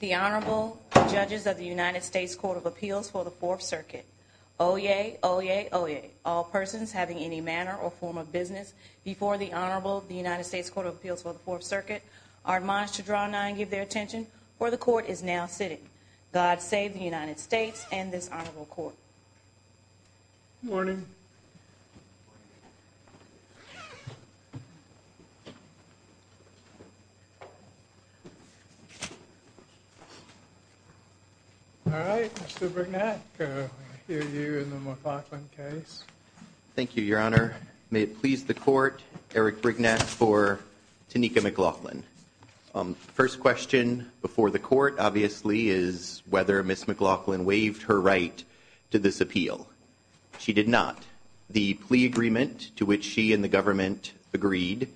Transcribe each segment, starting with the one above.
The Honorable Judges of the United States Court of Appeals for the Fourth Circuit. Oyez, oyez, oyez, all persons having any manner or form of business before the Honorable United States Court of Appeals for the Fourth Circuit are admonished to draw nigh and give their attention, for the Court is now sitting. God save the United States and this Honorable Court. Morning. All right, Mr. Brignac, I hear you in the McLaughlin case. Thank you, Your Honor. May it please the Court, Eric Brignac for Tineka McLaughlin. First question before the Court, obviously, is whether Ms. McLaughlin waived her right to this appeal. She did not. The plea agreement to which she and the government agreed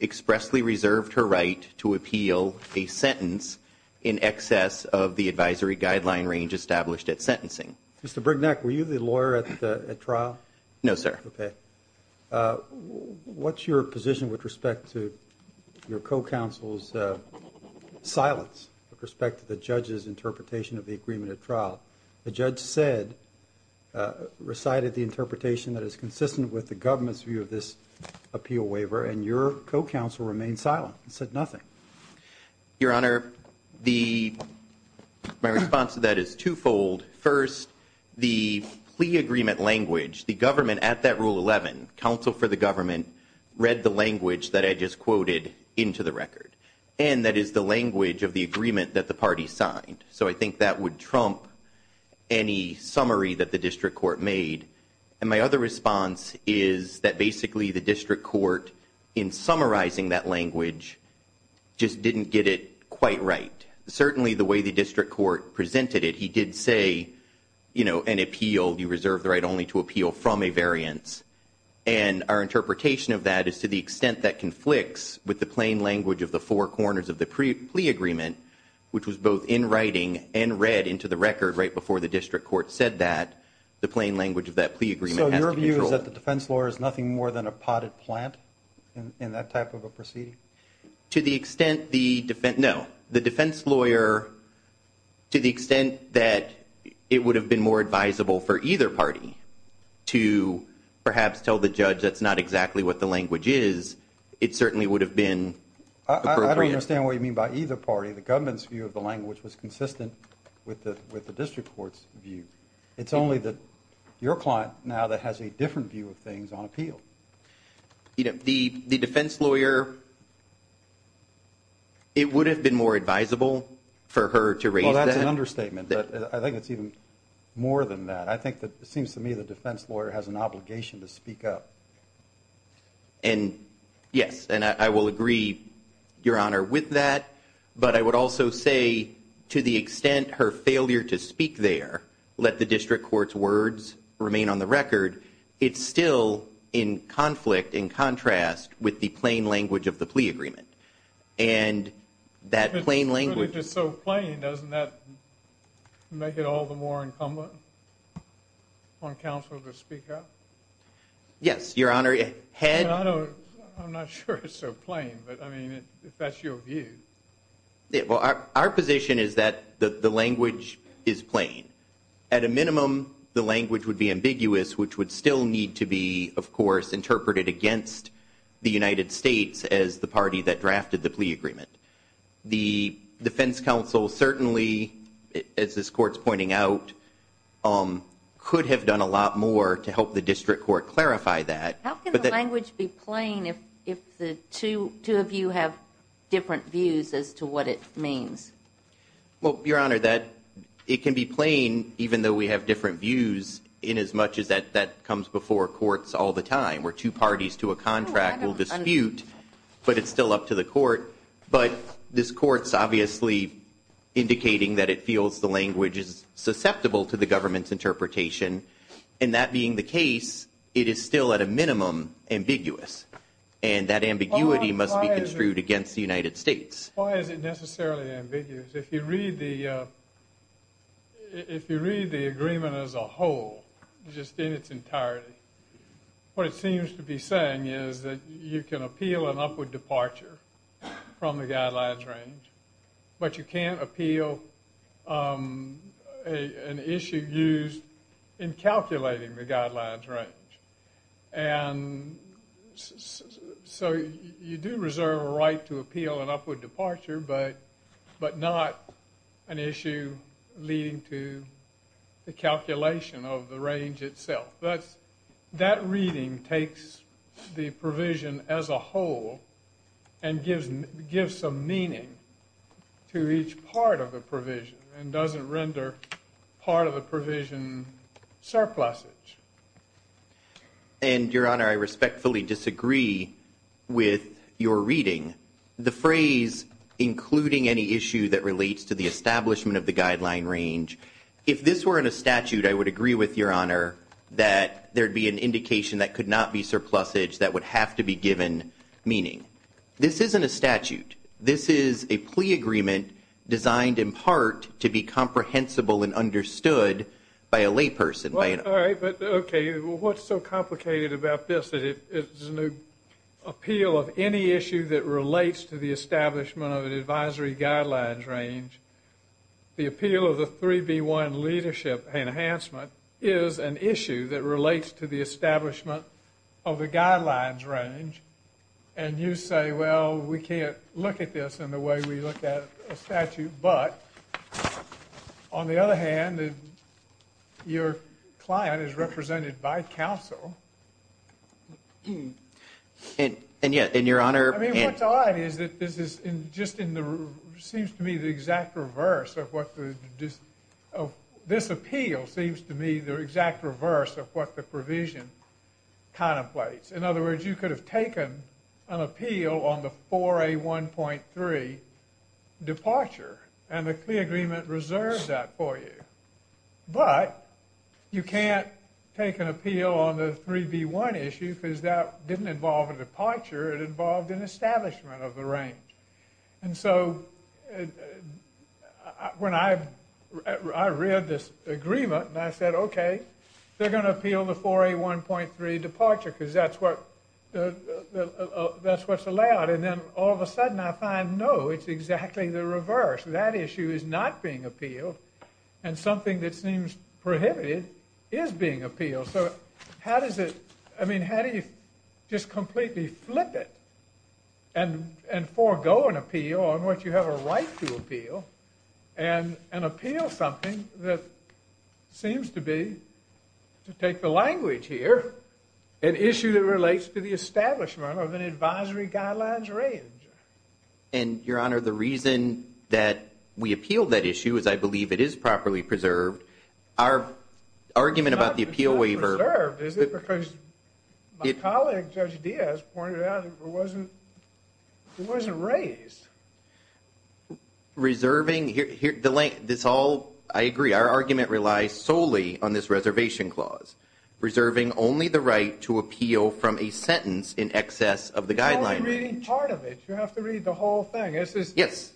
expressly reserved her right to appeal a sentence in excess of the advisory guideline range established at sentencing. Mr. Brignac, were you the lawyer at the trial? No, sir. Okay. What's your position with respect to your co-counsel's silence with respect to the judge's interpretation of the agreement at trial? The judge said, recited the interpretation that is consistent with the government's view of this appeal waiver, and your co-counsel remained silent and said nothing. Your Honor, my response to that is twofold. First, the plea agreement language, the government at that Rule 11, counsel for the government, read the language that I just quoted into the record. And that is the language of the agreement that the party signed. So I think that would trump any summary that the district court made. And my other response is that basically the district court, in summarizing that language, just didn't get it quite right. Certainly the way the district court presented it, he did say, you know, an appeal, you reserve the right only to appeal from a variance. And our interpretation of that is to the extent that conflicts with the plain language of the four corners of the plea agreement, which was both in writing and read into the record right before the district court said that, the plain language of that plea agreement has to control. So your view is that the defense lawyer is nothing more than a potted plant in that type of a proceeding? To the extent the defense – no. The defense lawyer, to the extent that it would have been more advisable for either party to perhaps tell the judge that's not exactly what the language is, it certainly would have been appropriate. I don't understand what you mean by either party. The government's view of the language was consistent with the district court's view. It's only that your client now that has a different view of things on appeal. You know, the defense lawyer, it would have been more advisable for her to raise that. Well, that's an understatement, but I think it's even more than that. I think that it seems to me the defense lawyer has an obligation to speak up. And yes, and I will agree, Your Honor, with that, but I would also say to the extent her failure to speak there, let the district court's words remain on the record, it's still in conflict, in contrast, with the plain language of the plea agreement. And that plain language – If it's really just so plain, doesn't that make it all the more incumbent on counsel to speak up? Yes, Your Honor. I'm not sure it's so plain, but I mean, if that's your view. Our position is that the language is plain. At a minimum, the language would be ambiguous, which would still need to be, of course, interpreted against the United States as the party that drafted the plea agreement. The defense counsel certainly, as this Court's pointing out, could have done a lot more to help the district court clarify that. How can the language be plain if the two of you have different views as to what it means? Well, Your Honor, it can be plain, even though we have different views, inasmuch as that comes before courts all the time, where two parties to a contract will dispute, but it's still up to the court. But this Court's obviously indicating that it feels the language is susceptible to the government's interpretation. And that being the case, it is still, at a minimum, ambiguous. And that ambiguity must be construed against the United States. Why is it necessarily ambiguous? If you read the agreement as a whole, just in its entirety, what it seems to be saying is that you can appeal an upward departure from the guidelines range, but you can't appeal an issue used in calculating the guidelines range. And so you do reserve a right to appeal an upward departure, but not an issue leading to the calculation of the range itself. That reading takes the provision as a whole and gives some meaning to each part of the provision and doesn't render part of the provision surplusage. And, Your Honor, I respectfully disagree with your reading. The phrase, including any issue that relates to the establishment of the guideline range, if this were in a statute, I would agree with Your Honor that there would be an indication that could not be surplusage that would have to be given meaning. This isn't a statute. This is a plea agreement designed in part to be comprehensible and understood by a layperson. All right, but, okay, what's so complicated about this? It's an appeal of any issue that relates to the establishment of an advisory guidelines range. The appeal of the 3B1 leadership enhancement is an issue that relates to the establishment of a guidelines range. And you say, well, we can't look at this in the way we look at a statute. But, on the other hand, your client is represented by counsel. And, Your Honor. I mean, what's odd is that this is just in the, seems to me, the exact reverse of what the, this appeal seems to me the exact reverse of what the provision contemplates. In other words, you could have taken an appeal on the 4A1.3 departure, and the plea agreement reserves that for you. But you can't take an appeal on the 3B1 issue because that didn't involve a departure. It involved an establishment of the range. And so when I read this agreement and I said, okay, they're going to appeal the 4A1.3 departure because that's what's allowed. And then all of a sudden I find, no, it's exactly the reverse. That issue is not being appealed. And something that seems prohibited is being appealed. So how does it, I mean, how do you just completely flip it and forego an appeal on what you have a right to appeal and appeal something that seems to be, to take the language here, an issue that relates to the establishment of an advisory guidelines range? And, Your Honor, the reason that we appealed that issue is I believe it is properly preserved. Our argument about the appeal waiver. It's not just not preserved, is it? Because my colleague, Judge Diaz, pointed out it wasn't raised. Reserving, I agree, our argument relies solely on this reservation clause. Reserving only the right to appeal from a sentence in excess of the guideline. You have to read part of it. You have to read the whole thing. Yes.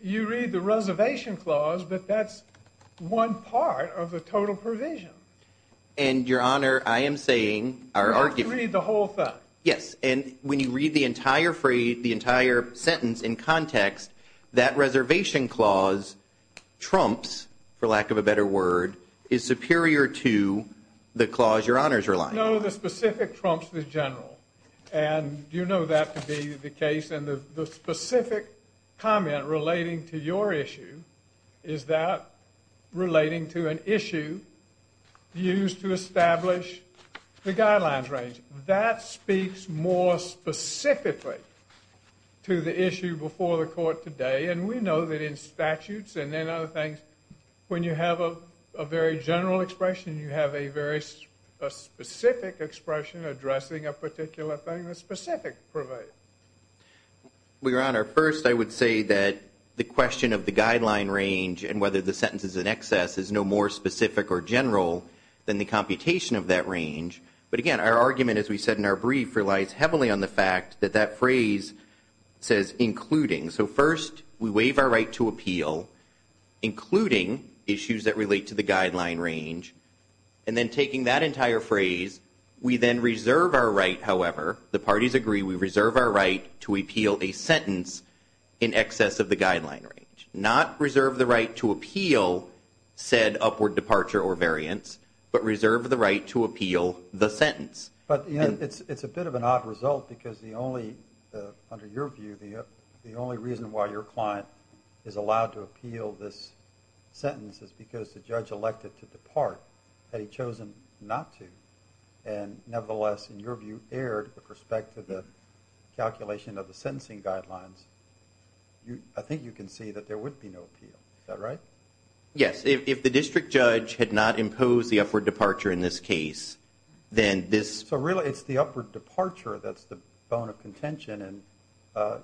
You read the reservation clause, but that's one part of the total provision. And, Your Honor, I am saying our argument. You have to read the whole thing. Yes. And when you read the entire phrase, the entire sentence in context, that reservation clause trumps, for lack of a better word, is superior to the clause Your Honor is relying on. No, the specific trumps the general. And you know that to be the case. And the specific comment relating to your issue is that relating to an issue used to establish the guidelines range. That speaks more specifically to the issue before the court today. And we know that in statutes and in other things, when you have a very general expression, you have a very specific expression addressing a particular thing. The specific provides. Well, Your Honor, first I would say that the question of the guideline range and whether the sentence is in excess is no more specific or general than the computation of that range. But, again, our argument, as we said in our brief, relies heavily on the fact that that phrase says including. So, first, we waive our right to appeal, including issues that relate to the guideline range. And then taking that entire phrase, we then reserve our right, however, the parties agree we reserve our right to appeal a sentence in excess of the guideline range. Not reserve the right to appeal said upward departure or variance, but reserve the right to appeal the sentence. But, you know, it's a bit of an odd result because the only, under your view, the only reason why your client is allowed to appeal this sentence is because the judge elected to depart had he chosen not to. And, nevertheless, in your view, erred with respect to the calculation of the sentencing guidelines. I think you can see that there would be no appeal. Is that right? Yes. If the district judge had not imposed the upward departure in this case, then this. So, really, it's the upward departure that's the bone of contention, and the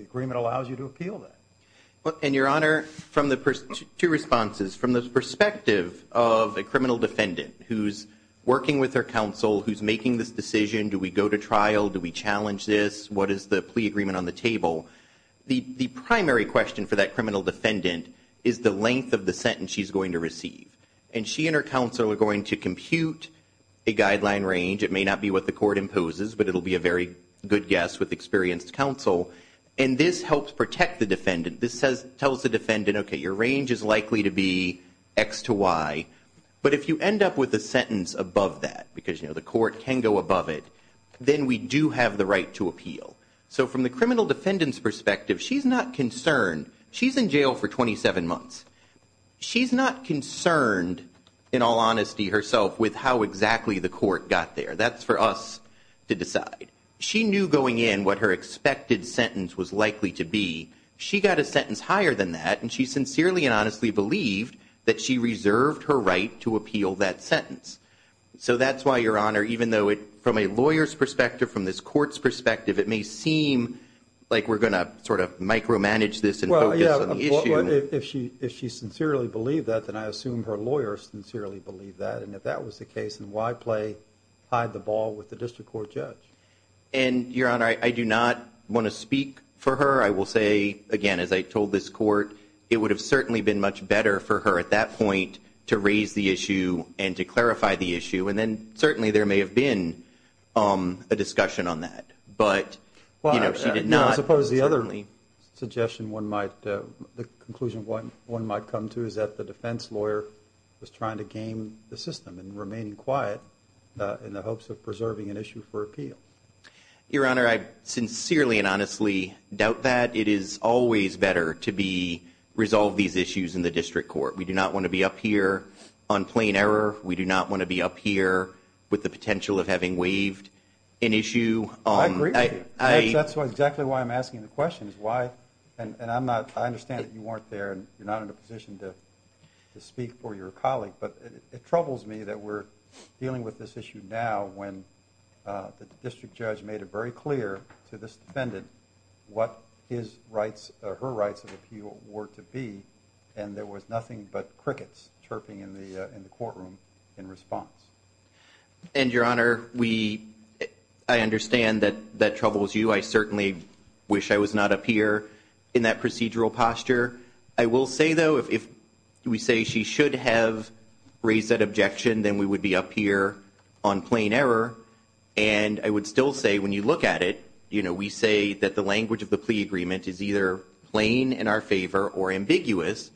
agreement allows you to appeal that. And, Your Honor, two responses. From the perspective of a criminal defendant who's working with their counsel, who's making this decision, do we go to trial, do we challenge this, what is the plea agreement on the table? The primary question for that criminal defendant is the length of the sentence she's going to receive. And she and her counsel are going to compute a guideline range. It may not be what the court imposes, but it will be a very good guess with experienced counsel. And this helps protect the defendant. This tells the defendant, okay, your range is likely to be X to Y, but if you end up with a sentence above that, because, you know, the court can go above it, then we do have the right to appeal. So from the criminal defendant's perspective, she's not concerned. She's in jail for 27 months. She's not concerned, in all honesty, herself, with how exactly the court got there. That's for us to decide. She knew going in what her expected sentence was likely to be. She got a sentence higher than that, and she sincerely and honestly believed that she reserved her right to appeal that sentence. So that's why, Your Honor, even though from a lawyer's perspective, from this court's perspective, it may seem like we're going to sort of micromanage this and focus on the issue. Well, yeah, if she sincerely believed that, then I assume her lawyer sincerely believed that. And if that was the case, then why play hide-the-ball with the district court judge? And, Your Honor, I do not want to speak for her. I will say, again, as I told this court, it would have certainly been much better for her at that point to raise the issue and to clarify the issue. And then certainly there may have been a discussion on that. But, you know, she did not. Well, I suppose the other suggestion one might, the conclusion one might come to is that the defense lawyer was trying to game the system and remain quiet in the hopes of preserving an issue for appeal. Your Honor, I sincerely and honestly doubt that. It is always better to resolve these issues in the district court. We do not want to be up here on plain error. We do not want to be up here with the potential of having waived an issue. I agree with you. That's exactly why I'm asking the question is why, and I understand that you weren't there and you're not in a position to speak for your colleague, but it troubles me that we're dealing with this issue now when the district judge made it very clear to this defendant what his rights or her rights of appeal were to be, and there was nothing but crickets chirping in the courtroom in response. And, Your Honor, I understand that that troubles you. I certainly wish I was not up here in that procedural posture. I will say, though, if we say she should have raised that objection, then we would be up here on plain error, and I would still say when you look at it, you know, we say that the language of the plea agreement is either plain in our favor or ambiguous,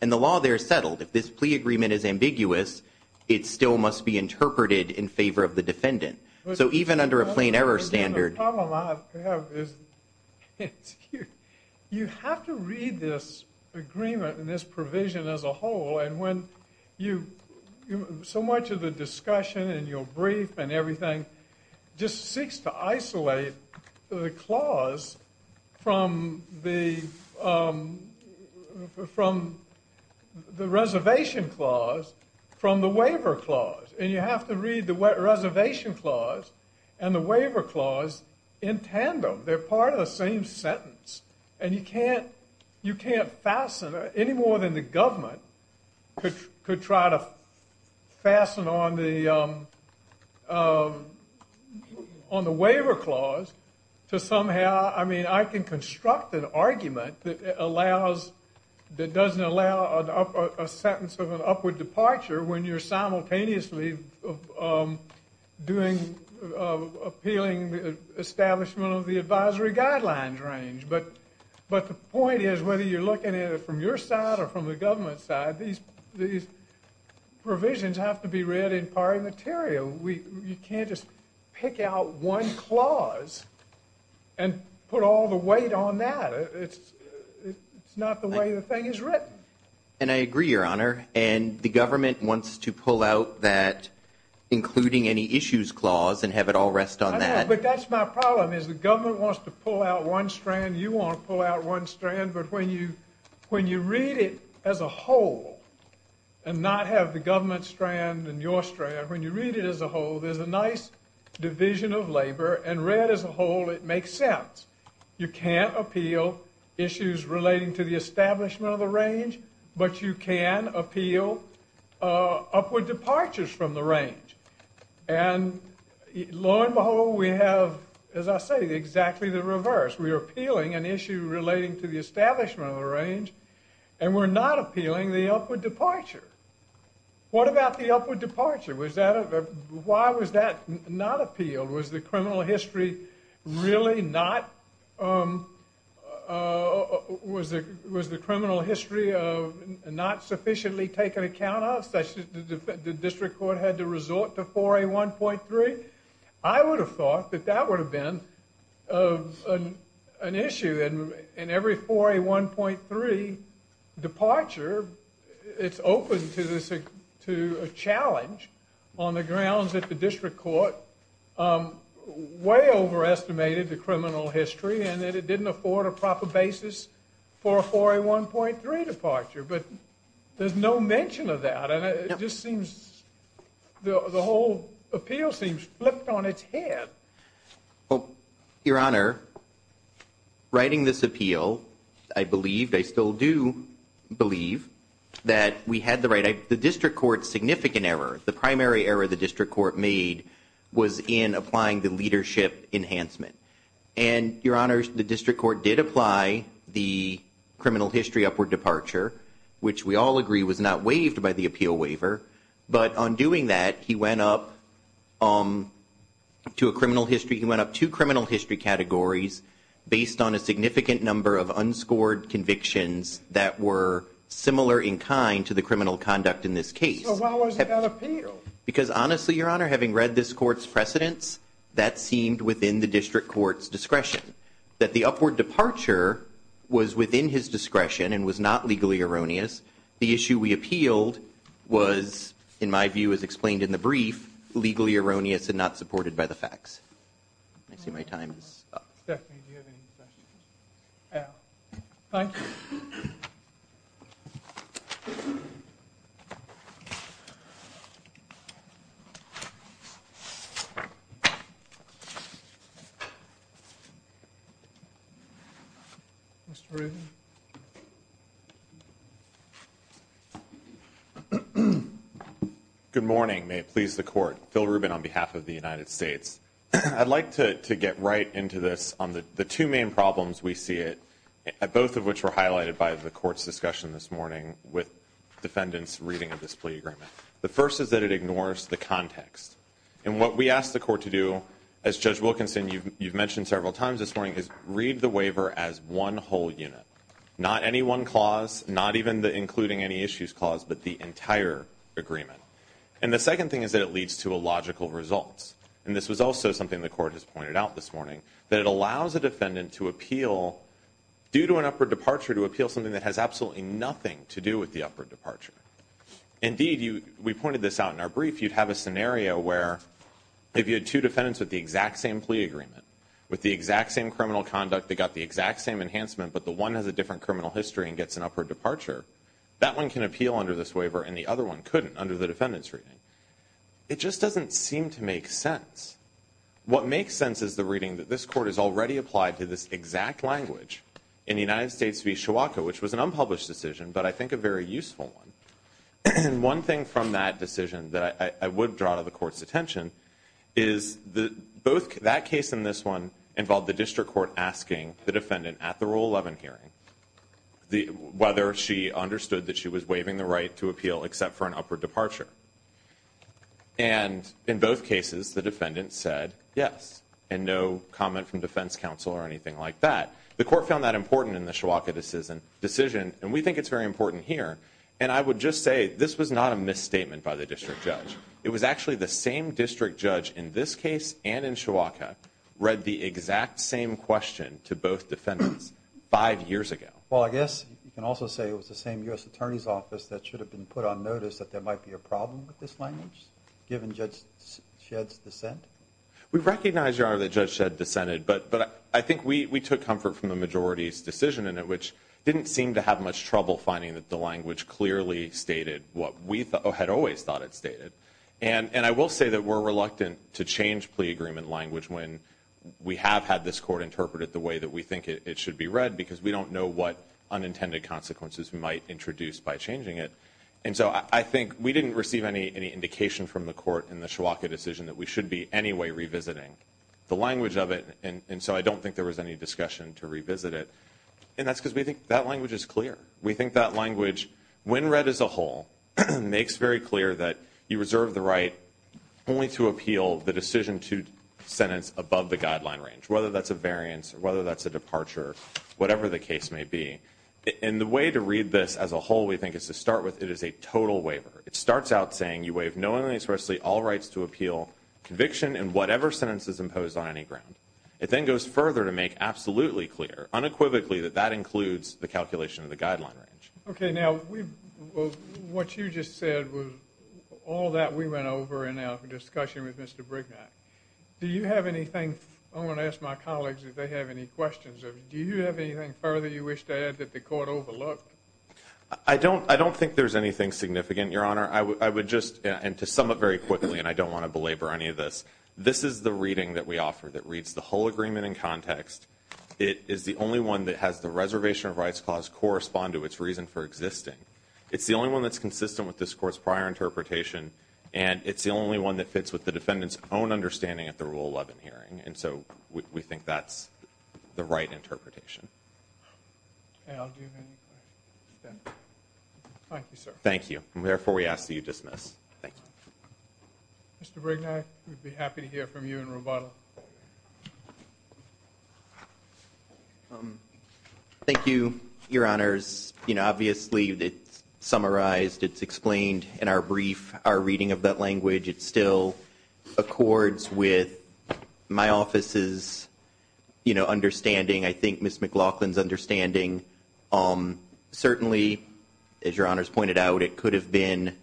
and the law there is settled. If this plea agreement is ambiguous, it still must be interpreted in favor of the defendant. So even under a plain error standard. The problem I have is you have to read this agreement and this provision as a whole, and when so much of the discussion and your brief and everything just seeks to isolate the clause from the reservation clause from the waiver clause, and you have to read the reservation clause and the waiver clause in tandem. They're part of the same sentence, and you can't fasten it any more than the government could try to fasten on the waiver clause to somehow. I mean, I can construct an argument that allows, that doesn't allow a sentence of an upward departure when you're simultaneously doing appealing establishment of the advisory guidelines range, but the point is whether you're looking at it from your side or from the government's side, these provisions have to be read in party material. You can't just pick out one clause and put all the weight on that. It's not the way the thing is written. And I agree, Your Honor, and the government wants to pull out that including any issues clause and have it all rest on that. But that's my problem is the government wants to pull out one strand, you want to pull out one strand, but when you read it as a whole and not have the government strand and your strand, when you read it as a whole, there's a nice division of labor, and read as a whole, it makes sense. You can't appeal issues relating to the establishment of the range, but you can appeal upward departures from the range. And lo and behold, we have, as I say, exactly the reverse. We are appealing an issue relating to the establishment of the range, and we're not appealing the upward departure. What about the upward departure? Why was that not appealed? Was the criminal history really not sufficiently taken account of, such that the district court had to resort to 4A1.3? I would have thought that that would have been an issue. In every 4A1.3 departure, it's open to a challenge on the grounds that the district court way overestimated the criminal history and that it didn't afford a proper basis for a 4A1.3 departure. But there's no mention of that, and it just seems the whole appeal seems flipped on its head. Well, Your Honor, writing this appeal, I believe, I still do believe, that we had the right. The district court's significant error, the primary error the district court made, was in applying the leadership enhancement. And, Your Honor, the district court did apply the criminal history upward departure, which we all agree was not waived by the appeal waiver. But on doing that, he went up to a criminal history, he went up two criminal history categories based on a significant number of unscored convictions that were similar in kind to the criminal conduct in this case. So why was it not appealed? Because, honestly, Your Honor, having read this court's precedents, that seemed within the district court's discretion, that the upward departure was within his discretion and was not legally erroneous. The issue we appealed was, in my view, as explained in the brief, legally erroneous and not supported by the facts. I see my time is up. Stephanie, do you have any questions? No. Thank you. Mr. Rubin. Good morning. May it please the Court. Phil Rubin on behalf of the United States. I'd like to get right into this on the two main problems we see, both of which were highlighted by the Court's discussion this morning with defendants' reading of this plea agreement. The first is that it ignores the context. And what we asked the Court to do, as Judge Wilkinson, you've mentioned several times this morning, is read the waiver as one whole unit. Not any one clause, not even the including any issues clause, but the entire agreement. And the second thing is that it leads to illogical results. And this was also something the Court has pointed out this morning, that it allows a defendant to appeal, due to an upward departure, to appeal something that has absolutely nothing to do with the upward departure. Indeed, we pointed this out in our brief, you'd have a scenario where if you had two defendants with the exact same plea agreement, with the exact same criminal conduct, they got the exact same enhancement, but the one has a different criminal history and gets an upward departure, that one can appeal under this waiver and the other one couldn't under the defendant's reading. It just doesn't seem to make sense. What makes sense is the reading that this Court has already applied to this exact language in the United States v. Chiwaka, which was an unpublished decision, but I think a very useful one. And one thing from that decision that I would draw to the Court's attention is that both that case and this one involved the District Court asking the defendant at the Rule 11 hearing whether she understood that she was waiving the right to appeal except for an upward departure. And in both cases, the defendant said yes, and no comment from defense counsel or anything like that. The Court found that important in the Chiwaka decision, and we think it's very important here. And I would just say this was not a misstatement by the District Judge. It was actually the same District Judge in this case and in Chiwaka read the exact same question to both defendants five years ago. Well, I guess you can also say it was the same U.S. Attorney's Office that should have been put on notice that there might be a problem with this language, given Judge Shedd's dissent. We recognize, Your Honor, that Judge Shedd dissented, but I think we took comfort from the majority's decision in it, which didn't seem to have much trouble finding that the language clearly stated what we had always thought it stated. And I will say that we're reluctant to change plea agreement language when we have had this Court interpret it the way that we think it should be read because we don't know what unintended consequences we might introduce by changing it. And so I think we didn't receive any indication from the Court in the Chiwaka decision that we should be anyway revisiting the language of it, and so I don't think there was any discussion to revisit it. And that's because we think that language is clear. We think that language, when read as a whole, makes very clear that you reserve the right only to appeal the decision to sentence above the guideline range, whether that's a variance or whether that's a departure, whatever the case may be. And the way to read this as a whole, we think, is to start with it is a total waiver. It starts out saying you waive knowingly and expressly all rights to appeal conviction in whatever sentence is imposed on any ground. It then goes further to make absolutely clear, unequivocally, that that includes the calculation of the guideline range. Okay, now, what you just said was all that we went over in our discussion with Mr. Brignac. Do you have anything? I want to ask my colleagues if they have any questions. Do you have anything further you wish to add that the Court overlooked? I don't think there's anything significant, Your Honor. I would just, and to sum up very quickly, and I don't want to belabor any of this, this is the reading that we offer that reads the whole agreement in context. It is the only one that has the reservation of rights clause correspond to its reason for existing. It's the only one that's consistent with this Court's prior interpretation, and it's the only one that fits with the defendant's own understanding of the Rule 11 hearing. And so we think that's the right interpretation. Okay, I'll give any questions then. Thank you, sir. Thank you. And, therefore, we ask that you dismiss. Thank you. Mr. Brignac, we'd be happy to hear from you and Roboto. Thank you, Your Honors. You know, obviously it's summarized, it's explained in our brief, our reading of that language. It still accords with my office's, you know, understanding, I think Ms. McLaughlin's understanding. Certainly, as Your Honors pointed out, it could have been,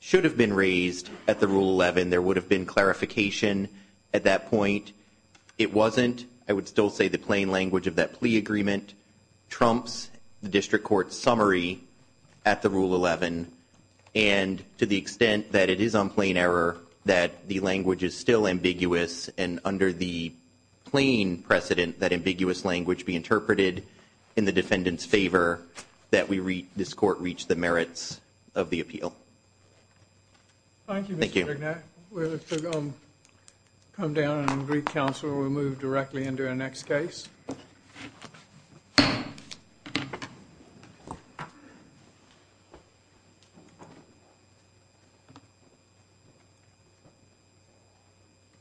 should have been raised at the Rule 11. There would have been clarification at that point. It wasn't. I would still say the plain language of that plea agreement trumps the district court's summary at the Rule 11. And to the extent that it is on plain error that the language is still ambiguous and under the plain precedent that ambiguous language be interpreted in the defendant's favor, that this court reach the merits of the appeal. Thank you, Mr. Brignac. Thank you. We're going to come down and greet counsel. We'll move directly into our next case.